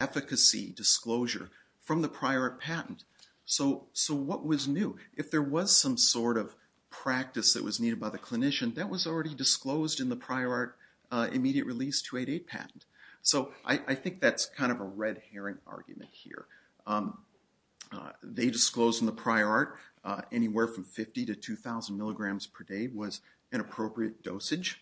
efficacy disclosure from the prior art patent. So what was new? If there was some sort of practice that was needed by the clinician, that was already disclosed in the prior art immediate release 288 patent. So I think that's kind of a red herring argument here. They disclosed in the prior art anywhere from 50 to 2,000 mg per day was an appropriate dosage.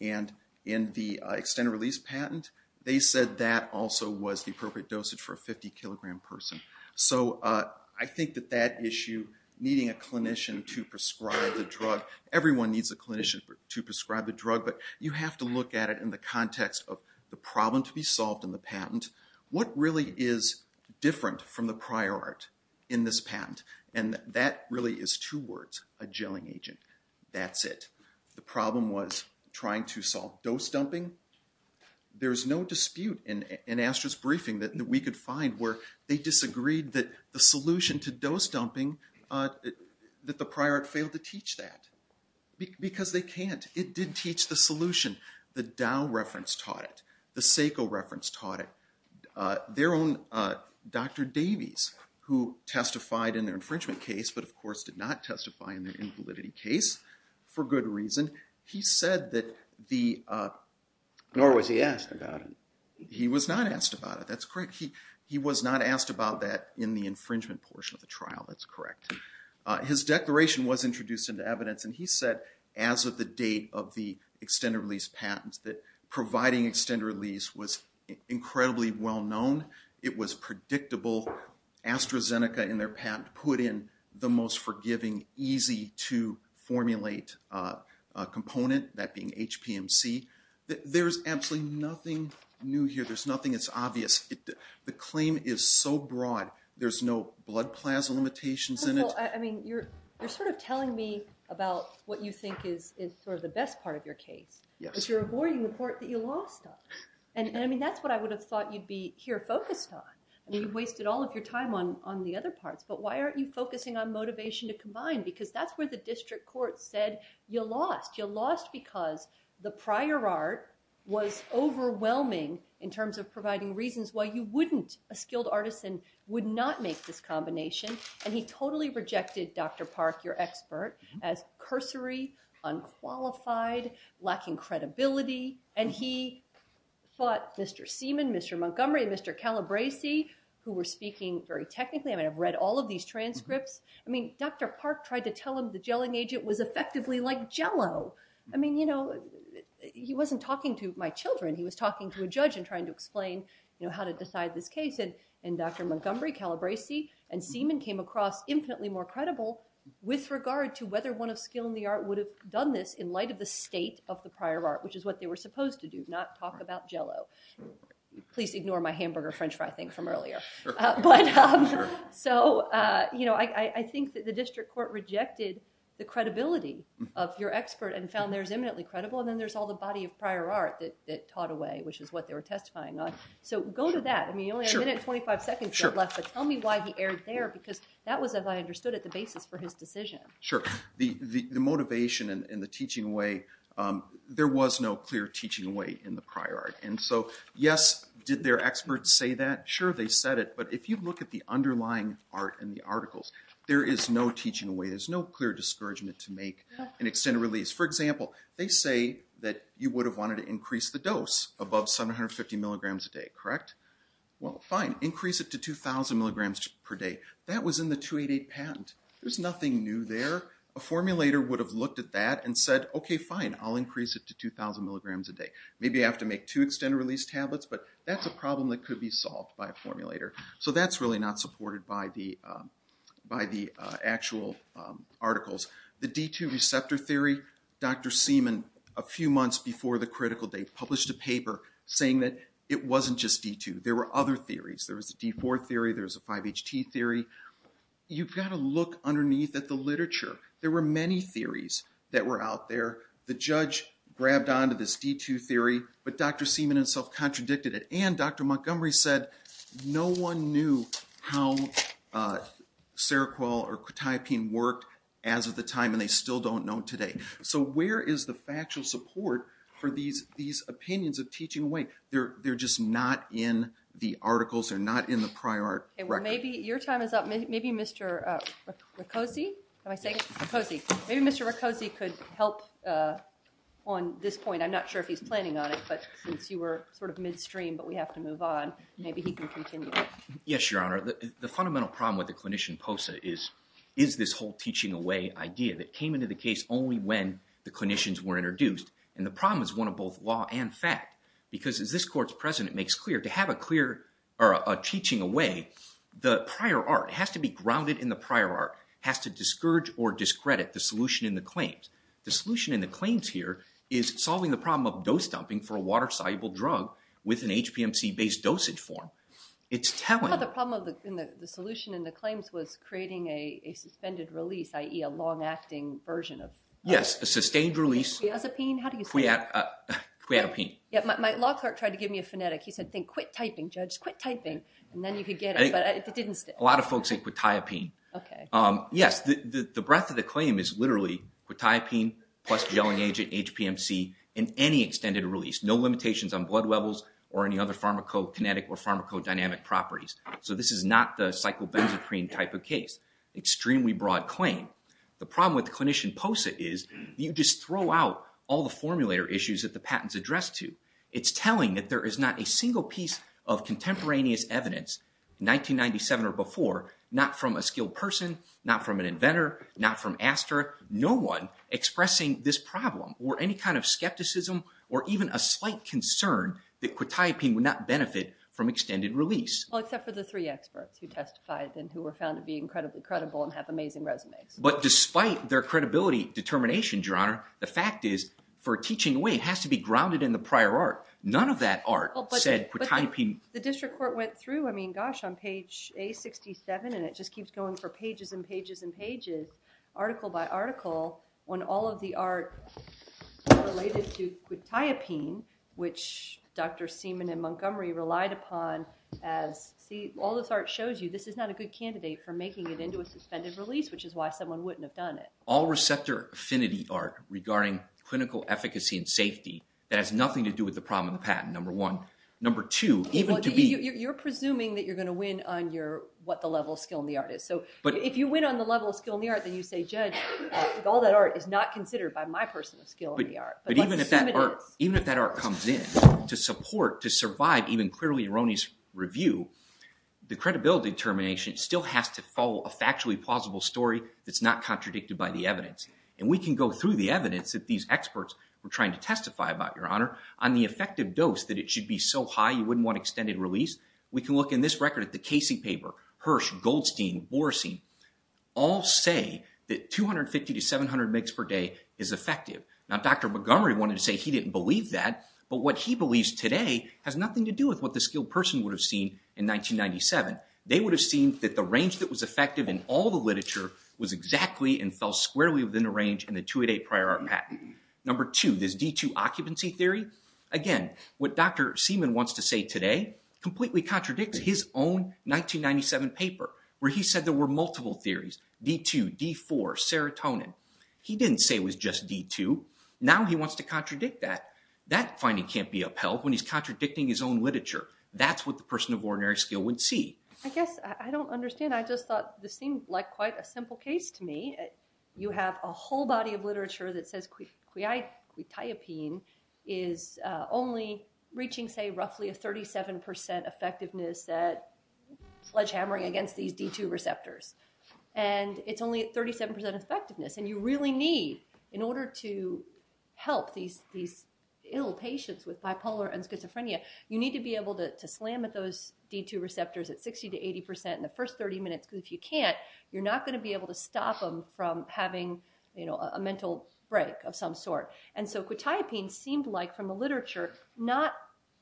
And in the extended release patent, they said that also was the appropriate dosage for a 50 kilogram person. So I think that that issue, needing a clinician to prescribe the drug, everyone needs a clinician to prescribe the drug, but you have to look at it in the context of the problem to be solved in the patent. What really is different from the prior art in this patent? And that really is two words, a gelling agent. That's it. The problem was trying to solve dose dumping. There's no dispute in ASTRA's briefing that we could find where they disagreed that the solution to dose dumping, that the prior art failed to teach that. Because they can't. It did teach the solution. The Dow reference taught it. The SACO reference taught it. Their own Dr. Davies, who testified in their infringement case, but of course did not testify in their invalidity case, for good reason. He said that the- Nor was he asked about it. He was not asked about it. That's correct. He was not asked about that in the infringement portion of the trial. That's correct. His declaration was introduced into evidence, and he said as of the date of the extended release patent that providing extended release was incredibly well known. It was predictable. AstraZeneca, in their patent, put in the most forgiving, easy to formulate component, that being HPMC. There's absolutely nothing new here. There's nothing that's obvious. The claim is so broad. There's no blood plasma limitations in it. I mean, you're sort of telling me about what you think is sort of the best part of your case. Yes. But you're avoiding the part that you lost on. And I mean, that's what I would have thought you'd be here focused on. I mean, you've wasted all of your time on the other parts, but why aren't you focusing on motivation to combine? Because that's where the district court said you lost. You lost because the prior art was overwhelming in terms of providing reasons why you wouldn't, a skilled artisan, would not make this combination. And he totally rejected Dr. Park, your expert, as cursory, unqualified, lacking credibility. And he fought Mr. Seaman, Mr. Montgomery, and Mr. Calabresi, who were speaking very technically. I mean, I've read all of these transcripts. I mean, Dr. Park tried to tell him the gelling agent was effectively like Jell-O. I mean, he wasn't talking to my children. He was talking to a judge and trying to explain how to decide this case. And Dr. Montgomery, Calabresi, and Seaman came across infinitely more credible with regard to whether one of skill in the art would have done this in light of the state of the prior art, which is what they were supposed to do, not talk about Jell-O. Please ignore my hamburger French fry thing from earlier. But so, you know, I think that the district court rejected the credibility of your expert and found theirs eminently credible. And then there's all the body of prior art that taught away, which is what they were testifying on. So go to that. I mean, you only have a minute and 25 seconds left, but tell me why he erred there, because that was, as I understood it, the basis for his decision. Sure. The motivation and the teaching way, there was no clear teaching way in the prior art. And so, yes, did their experts say that? Sure, they said it. But if you look at the underlying art in the articles, there is no teaching way. There's no clear discouragement to make an extended release. For example, they say that you would have wanted to increase the dose above 750 milligrams a day, correct? Well, fine. Increase it to 2000 milligrams per day. That was in the 288 patent. There's nothing new there. A formulator would have looked at that and said, okay, fine, I'll increase it to 2000 milligrams a day. Maybe I have to make two extended release tablets, but that's a problem that could be solved by a formulator. So that's really not supported by the actual articles. The D2 receptor theory, Dr. Seaman, a few months before the critical day, published a paper saying that it wasn't just D2. There were other theories. There was a D4 theory. There was a 5-HT theory. You've got to look underneath at the literature. There were many theories that were out there. The judge grabbed onto this D2 theory, but Dr. Seaman himself contradicted it. And Dr. Montgomery said no one knew how Seroquel or quetiapine worked as of the time, and they still don't know today. So where is the factual support for these opinions of teaching away? They're just not in the articles. They're not in the prior record. Okay, well, maybe your time is up. Maybe Mr. Roccozzi, am I saying it? Roccozzi. Maybe Mr. Roccozzi could help on this point. I'm not sure if he's planning on it, but since you were sort of midstream, but we have to move on, maybe he can continue. Yes, Your Honor. The fundamental problem with the clinician POSA is this whole teaching away idea that came into the case only when the clinicians were introduced. And the problem is one of both law and fact. Because as this court's president makes clear, to have a teaching away, the prior art has to be grounded in the prior art, has to discourage or discredit the solution in the claims. The solution in the claims here is solving the problem of dose dumping for a water-soluble drug with an HPMC-based dosage form. It's telling- I thought the problem in the solution in the claims was creating a suspended release, i.e. a long-acting version of- Yes, a sustained release. Quetiapine? How do you say it? Quetiapine. Yeah, my law clerk tried to give me a phonetic. He said, think, quit typing, Judge, quit typing. And then you could get it, but it didn't stick. A lot of folks say quetiapine. Okay. Yes, the breadth of the claim is literally quetiapine plus gelling agent, HPMC, and any extended release. No limitations on blood levels or any other pharmacokinetic or pharmacodynamic properties. So this is not the psychobenzaprine type of case. Extremely broad claim. The problem with clinician POSA is you just throw out all the formulator issues that the patent's addressed to. It's telling that there is not a single piece of contemporaneous evidence, 1997 or before, not from a skilled person, not from an inventor, not from Astra, no one expressing this problem or any kind of skepticism or even a slight concern that quetiapine would not benefit from extended release. Well, except for the three experts who testified and who were found to be incredibly credible and have amazing resumes. But despite their credibility determination, Your Honor, the fact is for teaching away, it has to be grounded in the prior art. None of that art said quetiapine. The district court went through, I mean, gosh, on page A67, and it just keeps going for pages and pages and pages, article by article, when all of the art related to quetiapine, which Dr. Seaman and Montgomery relied upon as, see, all this art shows you this is not a good All receptor affinity art regarding clinical efficacy and safety, that has nothing to do with the problem of the patent, number one. Number two, even to be... You're presuming that you're going to win on what the level of skill in the art is. So if you win on the level of skill in the art, then you say, judge, all that art is not considered by my personal skill in the art. But even if that art comes in to support, to survive even clearly erroneous review, the credibility determination still has to follow a factually plausible story that's not contradicted by the evidence. And we can go through the evidence that these experts were trying to testify about, Your Honor, on the effective dose that it should be so high, you wouldn't want extended release. We can look in this record at the Casey paper, Hirsch, Goldstein, Borosin, all say that 250 to 700 migs per day is effective. Now, Dr. Montgomery wanted to say he didn't believe that, but what he believes today has nothing to do with what the skilled person would have seen in 1997. They would have seen that the range that was effective in all the literature was exactly and fell squarely within the range in the 288 prior art patent. Number two, this D2 occupancy theory, again, what Dr. Seaman wants to say today completely contradicts his own 1997 paper, where he said there were multiple theories, D2, D4, serotonin. He didn't say it was just D2. Now he wants to contradict that. That finding can't be upheld when he's contradicting his own literature. That's what the person of ordinary skill would see. I guess I don't understand. I just thought this seemed like quite a simple case to me. You have a whole body of literature that says quetiapine is only reaching, say, roughly a 37% effectiveness at sledgehammering against these D2 receptors. And it's only at help these ill patients with bipolar and schizophrenia, you need to be able to slam at those D2 receptors at 60% to 80% in the first 30 minutes, because if you can't, you're not going to be able to stop them from having a mental break of some sort. And so quetiapine seemed like, from the literature, not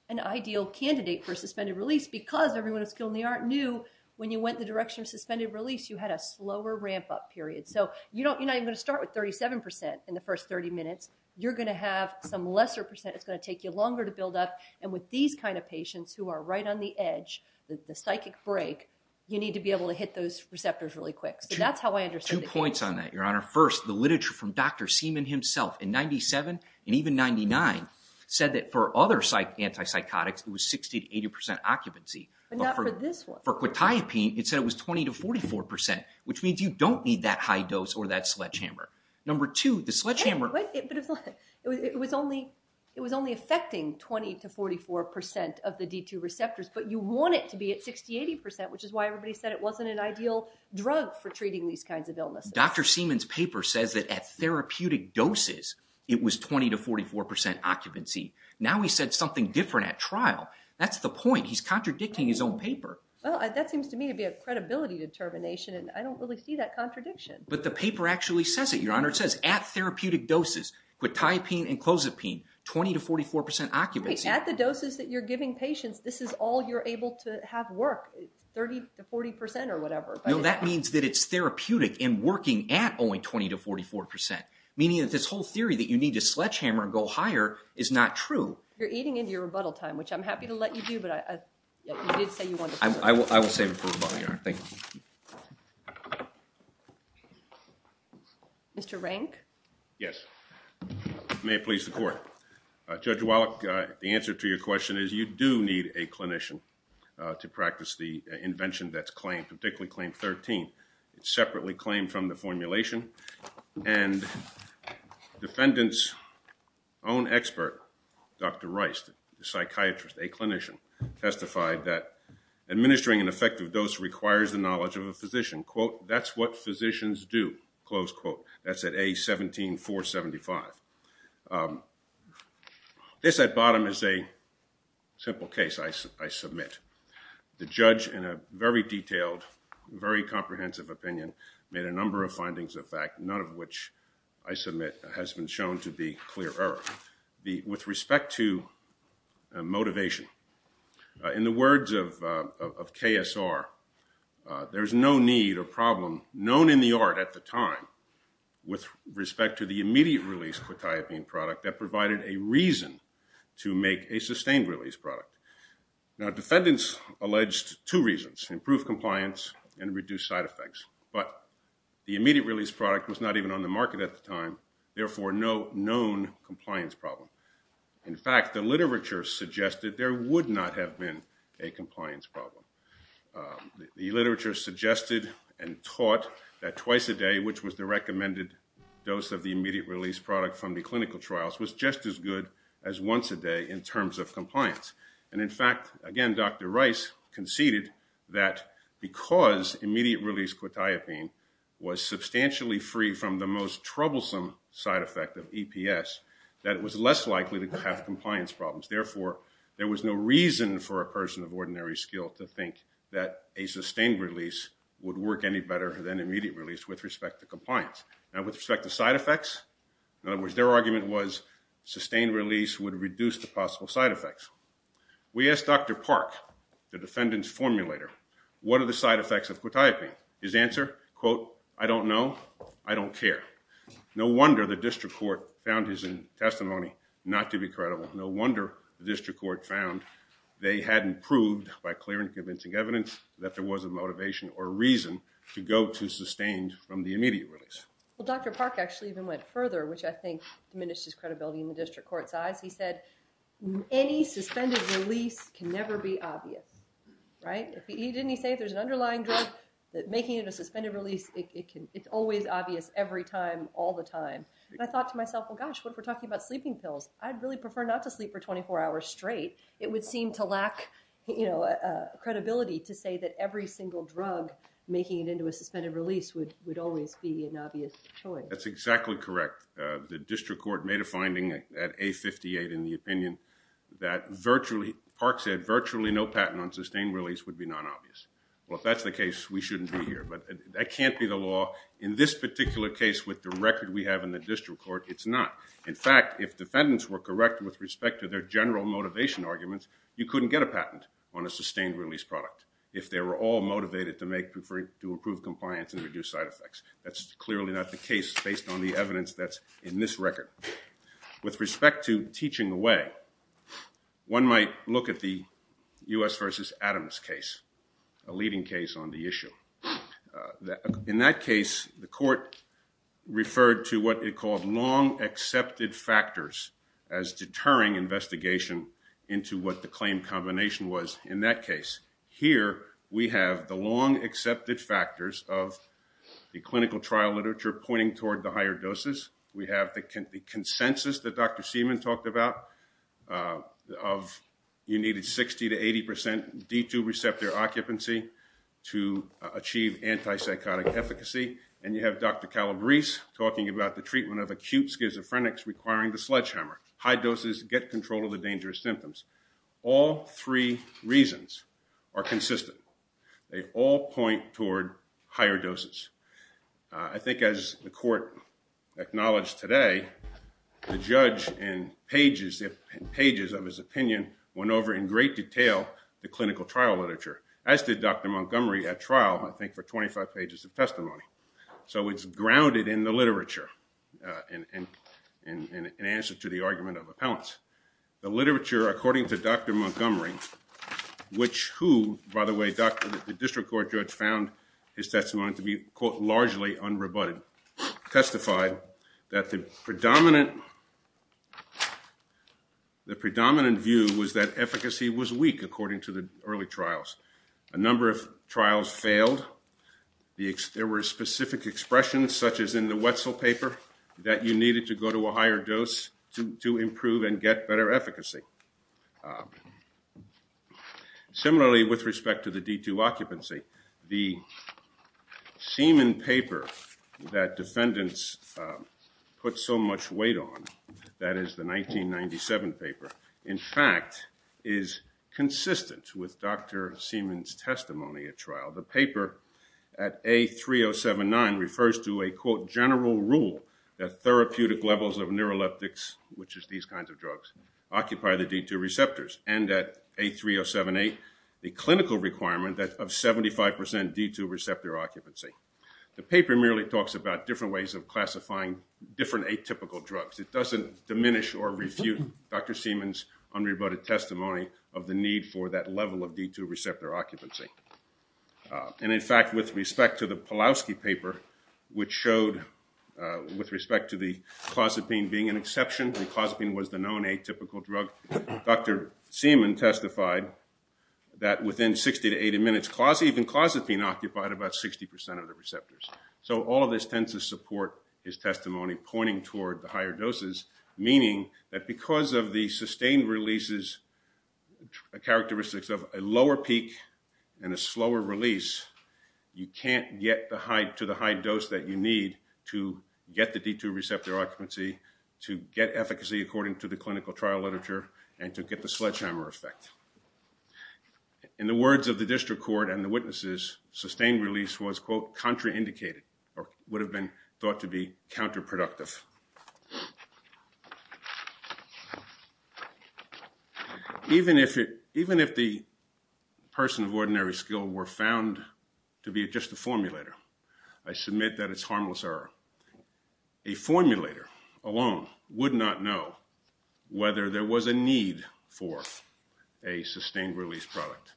an ideal candidate for suspended release, because everyone who's skilled in the art knew when you went in the direction of suspended release, you had a slower ramp-up period. So you're not even going to start with 37% in the first 30 minutes. You're going to have some lesser percent. It's going to take you longer to build up. And with these kinds of patients who are right on the edge, the psychic break, you need to be able to hit those receptors really quick. So that's how I understood the case. Two points on that, Your Honor. First, the literature from Dr. Seaman himself, in 97 and even 99, said that for other anti-psychotics, it was 60% to 80% occupancy. But not for this one. For quetiapine, it said it was 20% to 44%, which means you don't need that high dose or that sledgehammer. But it was only affecting 20% to 44% of the D2 receptors. But you want it to be at 60% to 80%, which is why everybody said it wasn't an ideal drug for treating these kinds of illnesses. Dr. Seaman's paper says that at therapeutic doses, it was 20% to 44% occupancy. Now he said something different at trial. That's the point. He's contradicting his own paper. Well, that seems to me to be a credibility determination, and I don't really see that contradiction. But the paper actually says it, Your Honor. It says at therapeutic doses, quetiapine and clozapine, 20% to 44% occupancy. At the doses that you're giving patients, this is all you're able to have work, 30% to 40% or whatever. That means that it's therapeutic and working at only 20% to 44%, meaning that this whole theory that you need to sledgehammer and go higher is not true. You're eating into your rebuttal time, which I'm happy to let you do. But you did say you wanted to... I will save it for rebuttal, Your Honor. Thank you. Mr. Rank? Yes. May it please the court. Judge Wallach, the answer to your question is you do need a clinician to practice the invention that's claimed, particularly Claim 13. It's separately claimed from the formulation. And defendant's own expert, Dr. Reist, the psychiatrist, a clinician, testified that administering an effective dose requires the knowledge of a physician. That's what physicians do. That's at A17.475. This at bottom is a simple case I submit. The judge, in a very detailed, very comprehensive opinion, made a number of findings of fact, none of which I submit has been shown to be clear error. With respect to motivation, in the words of KSR, there's no need or problem known in the art at the time with respect to the immediate release quetiapine product that provided a reason to make a sustained release product. Now, defendants alleged two reasons, improved compliance and reduced side effects. But the immediate release product was not even on the market at the time, therefore, no known compliance problem. In fact, the literature suggested there would not have been a compliance problem. The literature suggested and taught that twice a day, which was the recommended dose of the immediate release product from the clinical trials, was just as good as once a day in terms of compliance. And in fact, again, Dr. Reist conceded that because immediate release quetiapine was substantially free from the most troublesome side effect of EPS, that it was less likely to have compliance problems. Therefore, there was no reason for a person of ordinary skill to think that a sustained release would work any better than immediate release with respect to compliance. Now, with respect to side effects, in other words, their argument was sustained release would reduce the possible side effects. We asked Dr. Park, the defendant's formulator, what are the side effects of quetiapine? His answer, quote, I don't know. I don't care. No wonder the district court found his testimony not to be credible. No wonder the district court found they hadn't proved by clear and convincing evidence that there was a motivation or a reason to go to sustained from the immediate release. Well, Dr. Park actually even went further, which I think diminished his credibility in the district court's eyes. He said, any suspended release can never be obvious, right? Didn't he say there's an underlying drug that making it a suspended release, it can, it's always obvious every time, all the time. I thought to myself, well, gosh, what if we're talking about sleeping pills? I'd really prefer not to sleep for 24 hours straight. It would seem to lack, you know, uh, credibility to say that every single drug making it into a suspended release would, would always be an obvious choice. That's exactly correct. The district court made a finding at A58 in the opinion that virtually, Park said virtually no patent on sustained release would be non-obvious. Well, if that's the case, we shouldn't be here, but that can't be the law. In this particular case with the record we have in the district court, it's not. In fact, if defendants were correct with respect to their general motivation arguments, you couldn't get a patent on a sustained release product if they were all motivated to make, to improve compliance and reduce side effects. That's clearly not the case based on the evidence that's in this record. With respect to teaching away, one might look at the U.S. versus Adams case, a leading case on the issue. In that case, the court referred to what it called long accepted factors as deterring investigation into what the claim combination was in that case. Here, we have the long accepted factors of the clinical trial literature pointing toward the higher doses. We have the consensus that Dr. Seaman talked about, of you needed 60 to 80 percent D2 receptor occupancy to achieve antipsychotic efficacy. And you have Dr. Calabrese talking about the treatment of acute schizophrenics requiring the sledgehammer. High doses get control of the dangerous symptoms. All three reasons are consistent. They all point toward higher doses. I think as the court acknowledged today, the judge in pages and pages of his opinion went over in great detail the clinical trial literature, as did Dr. Montgomery at trial, I think for 25 pages of testimony. So it's grounded in the literature in answer to the argument of appellants. The literature, according to Dr. Montgomery, which who, by the way, the district court judge found his testimony to be, quote, largely unrebutted, testified that the predominant view was that efficacy was weak, according to the early trials. A number of trials failed. There were specific expressions, such as in the Wetzel paper, that you needed to go to a higher dose to improve and get better efficacy. Similarly, with respect to the D2 occupancy, the Seaman paper that defendants put so much weight on, that is the 1997 paper, in fact, is consistent with Dr. Seaman's testimony at trial. The paper at A3079 refers to a, quote, general rule that therapeutic levels of neuroleptics, which is these kinds of drugs, occupy the D2 receptors. And at A3078, the clinical requirement of 75% D2 receptor occupancy. The paper merely talks about different ways of classifying different atypical drugs. It doesn't diminish or refute Dr. Seaman's unrebutted testimony of the need for that level of D2 receptor occupancy. And in fact, with respect to the Pawlowski paper, which showed, with respect to the clozapine being an exception, and clozapine was the known atypical drug, Dr. Seaman testified that within 60 to 80 minutes, even clozapine occupied about 60% of the receptors. So all of this tends to support his testimony pointing toward the higher doses, meaning that because of the sustained releases, characteristics of a lower peak and a slower release, you can't get to the high dose that you need to get the D2 receptor occupancy, to get efficacy according to the clinical trial literature, and to get the sledgehammer effect. In the words of the district court and the witnesses, sustained release was, quote, contraindicated, or would have been thought to be counterproductive. Even if the person of ordinary skill were found to be just a formulator, I submit that it's harmless error. A formulator alone would not know whether there was a need for a sustained release product.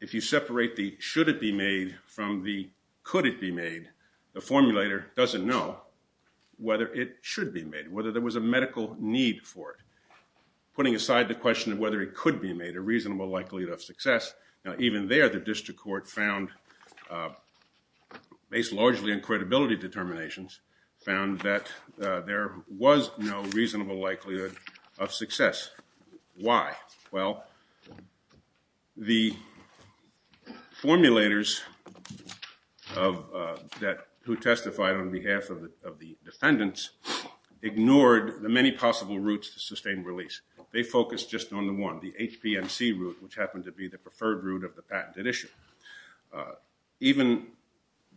If you separate the should it be made from the could it be made, the formulator doesn't know whether it should be made, whether there was a medical need for it. Putting aside the question of whether it could be made, a reasonable likelihood of success, even there the district court found, based largely on credibility determinations, found that there was no reasonable likelihood of success. Why? Well, the formulators who testified on behalf of the defendants ignored the many possible routes to sustained release. They focused just on the one, the HPMC route, which happened to be the preferred route of the patented issue. Even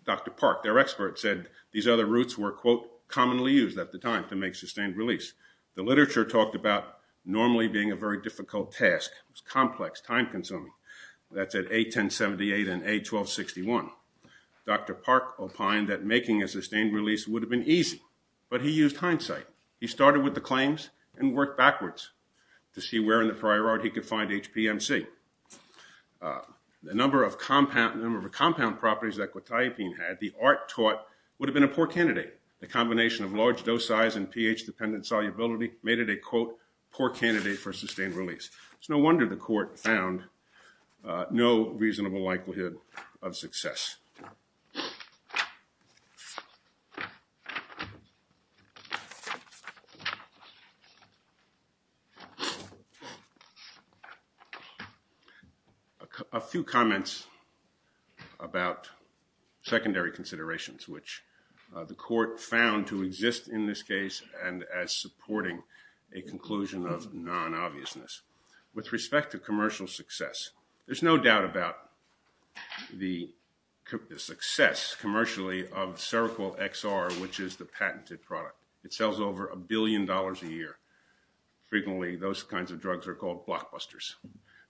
Dr. Park, their expert, said these other routes were, quote, commonly used at the time to make sustained release. The literature talked about normally being a very difficult task. It's complex, time-consuming. That's at A1078 and A1261. Dr. Park opined that making a sustained release would have been easy, but he used hindsight. He started with the claims and worked backwards to see where in the prior art he could find HPMC. The number of compound properties that quetiapine had, the art taught, would have been a poor candidate. The combination of large dose size and pH-dependent solubility made it a, quote, poor candidate for sustained release. It's no wonder the court found no reasonable likelihood of success. A few comments about secondary considerations, which the court found to exist in this case and as supporting a conclusion of non-obviousness. With respect to commercial success, there's no doubt about the success commercially of Seroquel XR, which is the patented product. It sells over a billion dollars a year. Frequently, those kinds of drugs are called blockbusters.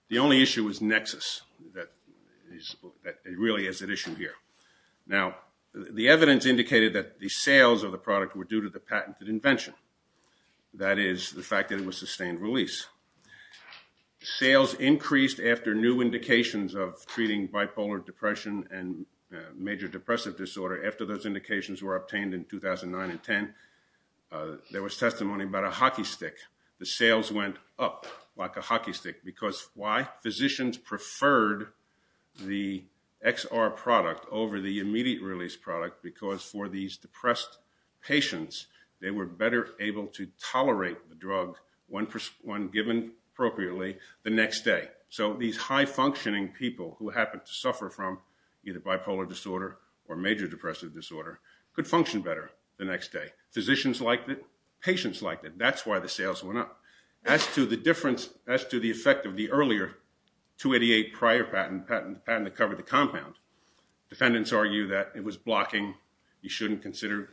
The only issue is Nexus that really is at issue here. Now, the evidence indicated that the sales of the product were due to the patented invention. That is, the fact that it was sustained release. Sales increased after new indications of treating bipolar depression and major depressive disorder, after those indications were obtained in 2009 and 10. There was testimony about a hockey stick. The sales went up like a hockey stick. Because why? Physicians preferred the XR product over the immediate release product because for these depressed patients, they were better able to tolerate the drug when given appropriately the next day. So these high-functioning people who happen to suffer from either bipolar disorder or major depressive disorder could function better the next day. Physicians liked it. Patients liked it. That's why the sales went up. As to the effect of the earlier 288 prior patent that covered the compound, defendants argue that it was blocking. You shouldn't consider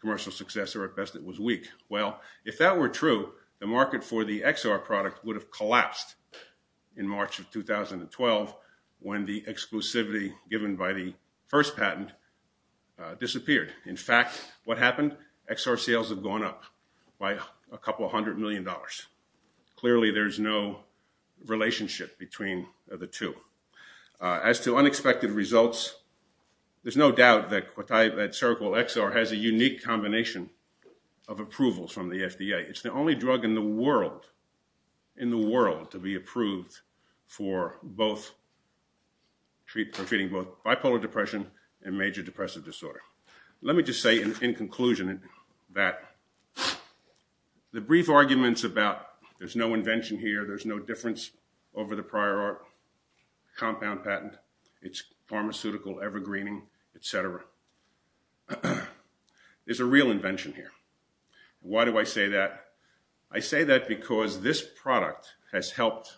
commercial success or at best it was weak. Well, if that were true, the market for the XR product would have collapsed in March of 2012 when the exclusivity given by the first patent disappeared. In fact, what happened? XR sales have gone up by a couple of hundred million dollars. Clearly, there's no relationship between the two. As to unexpected results, there's no doubt that Quetiapate Cervical XR has a unique combination of approvals from the FDA. It's the only drug in the world to be approved for both for treating both bipolar depression and major depressive disorder. Let me just say in conclusion that the brief arguments about there's no invention here, there's no difference over the prior compound patent, it's pharmaceutical evergreening, etc. is a real invention here. Why do I say that? I say that because this product has helped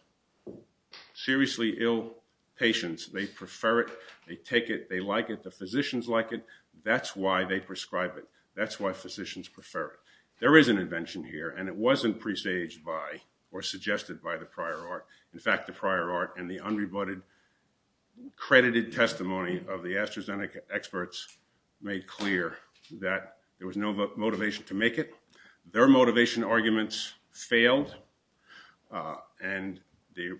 seriously ill patients. They prefer it. They take it. They like it. The physicians like it. That's why they prescribe it. That's why physicians prefer it. There is an invention here and it wasn't presaged by or suggested by the prior art. In fact, the prior art and the unrebutted credited testimony of the AstraZeneca experts made clear that there was no motivation to make it. Their motivation arguments failed and the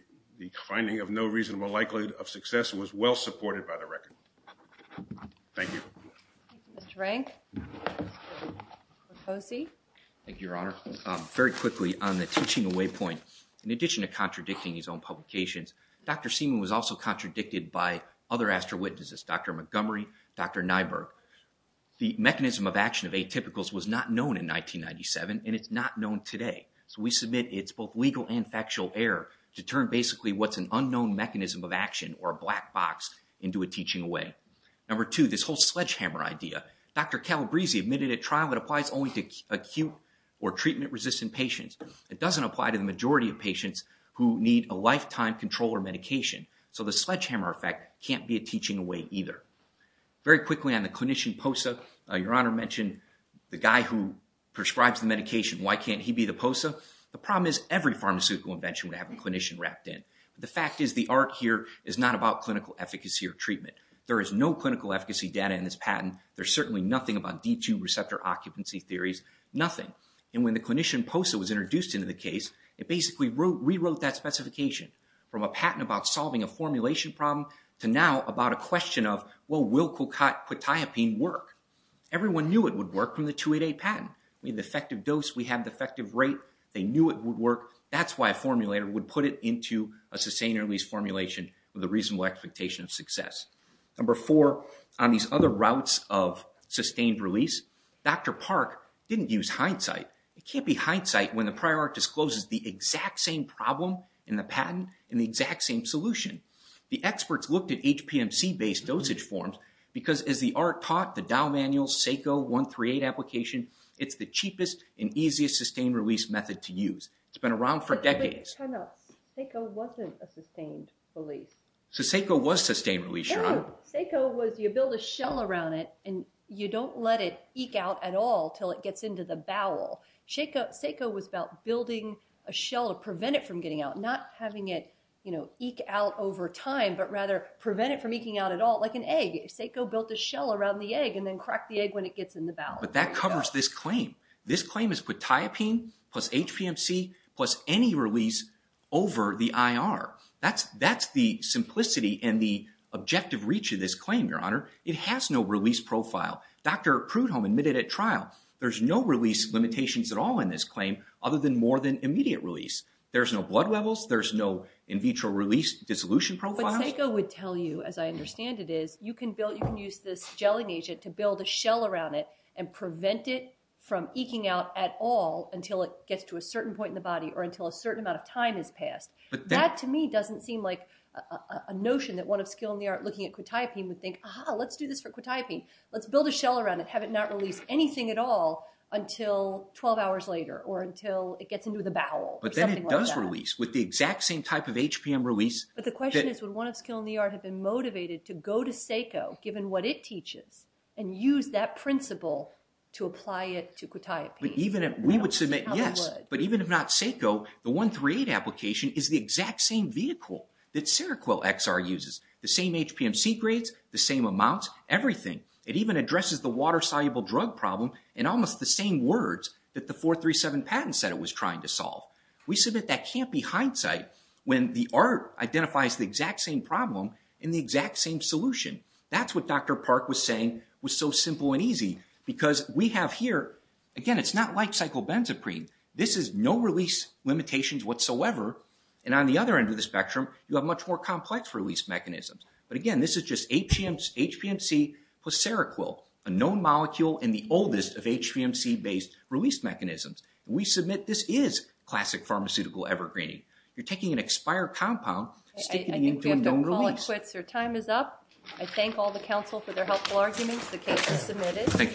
finding of no reasonable likelihood of success was well supported by the record. Thank you. Mr. Rank? Mr. Posey? Thank you, Your Honor. Very quickly on the teaching away point. In addition to contradicting his own publications, Dr. Seaman was also contradicted by other Astra witnesses, Dr. Montgomery, Dr. Nyberg. The mechanism of action of atypicals was not known in 1997 and it's not known today. So we submit it's both legal and factual error to turn basically what's an unknown mechanism of action or a black box into a teaching away. Number two, this whole sledgehammer idea. Dr. Calabrese admitted at trial that applies only to acute or treatment resistant patients. It doesn't apply to the majority of patients who need a lifetime controller medication. So the sledgehammer effect can't be a teaching away either. Very quickly on the clinician POSA. Your Honor mentioned the guy who prescribes the medication. Why can't he be the POSA? The problem is every pharmaceutical invention would have a clinician wrapped in. The fact is the art here is not about clinical efficacy or treatment. There is no clinical efficacy data in this patent. There's certainly nothing about D2 receptor occupancy theories, nothing. And when the clinician POSA was introduced into the case, it basically rewrote that specification from a patent about solving a formulation problem to now about a question of, well, will Colcutt quetiapine work? Everyone knew it would work from the 288 patent. We have the effective dose, we have the effective rate. They knew it would work. That's why a formulator would put it into a sustained early formulation with a reasonable expectation of success. Number four, on these other routes of sustained release, Dr. Park didn't use hindsight. It can't be hindsight when the prior art discloses the exact same problem in the patent and the exact same solution. The experts looked at HPMC-based dosage forms because as the art taught, the Dow manual, SACO 138 application, it's the cheapest and easiest sustained release method to use. It's been around for decades. Time out. SACO wasn't a sustained release. So SACO was sustained release, your honor. SACO was, you build a shell around it and you don't let it eke out at all till it gets into the bowel. SACO was about building a shell to prevent it from getting out, not having it eke out over time, but rather prevent it from eking out at all, like an egg. SACO built a shell around the egg and then cracked the egg when it gets in the bowel. But that covers this claim. This claim is putiapine plus HPMC plus any release over the IR. That's the simplicity and the objective reach of this claim, your honor. It has no release profile. Dr. Prudhomme admitted at trial, there's no release limitations at all in this claim other than more than immediate release. There's no blood levels. There's no in vitro release dissolution profile. But SACO would tell you, as I understand it is, you can build, you can use this gelling agent to build a shell around it and prevent it from eking out at all until it gets to a certain point in the body or until a certain amount of time has passed. That, to me, doesn't seem like a notion that one of skill in the art looking at quetiapine would think, aha, let's do this for quetiapine. Let's build a shell around it, have it not release anything at all until 12 hours later or until it gets into the bowel. But then it does release with the exact same type of HPM release. But the question is, would one of skill in the art have been motivated to go to SACO, given what it teaches and use that principle to apply it to quetiapine? But even if we would submit, yes, but even if not SACO, the 138 application is the exact same vehicle that Seroquel XR uses. The same HPMC grades, the same amounts, everything. It even addresses the water-soluble drug problem in almost the same words that the 437 patent said it was trying to solve. We submit that can't be hindsight when the art identifies the exact same problem in the exact same solution. That's what Dr. Park was saying was so simple and easy because we have here, again, it's not like cyclobenzaprine. This is no release limitations whatsoever. And on the other end of the spectrum, you have much more complex release mechanisms. But again, this is just HPMC plus Seroquel, a known molecule and the oldest of HPMC-based release mechanisms. We submit this is classic pharmaceutical evergreening. You're taking an expired compound, sticking it into a known release. Your time is up. I thank all the council for their helpful arguments. The case is submitted.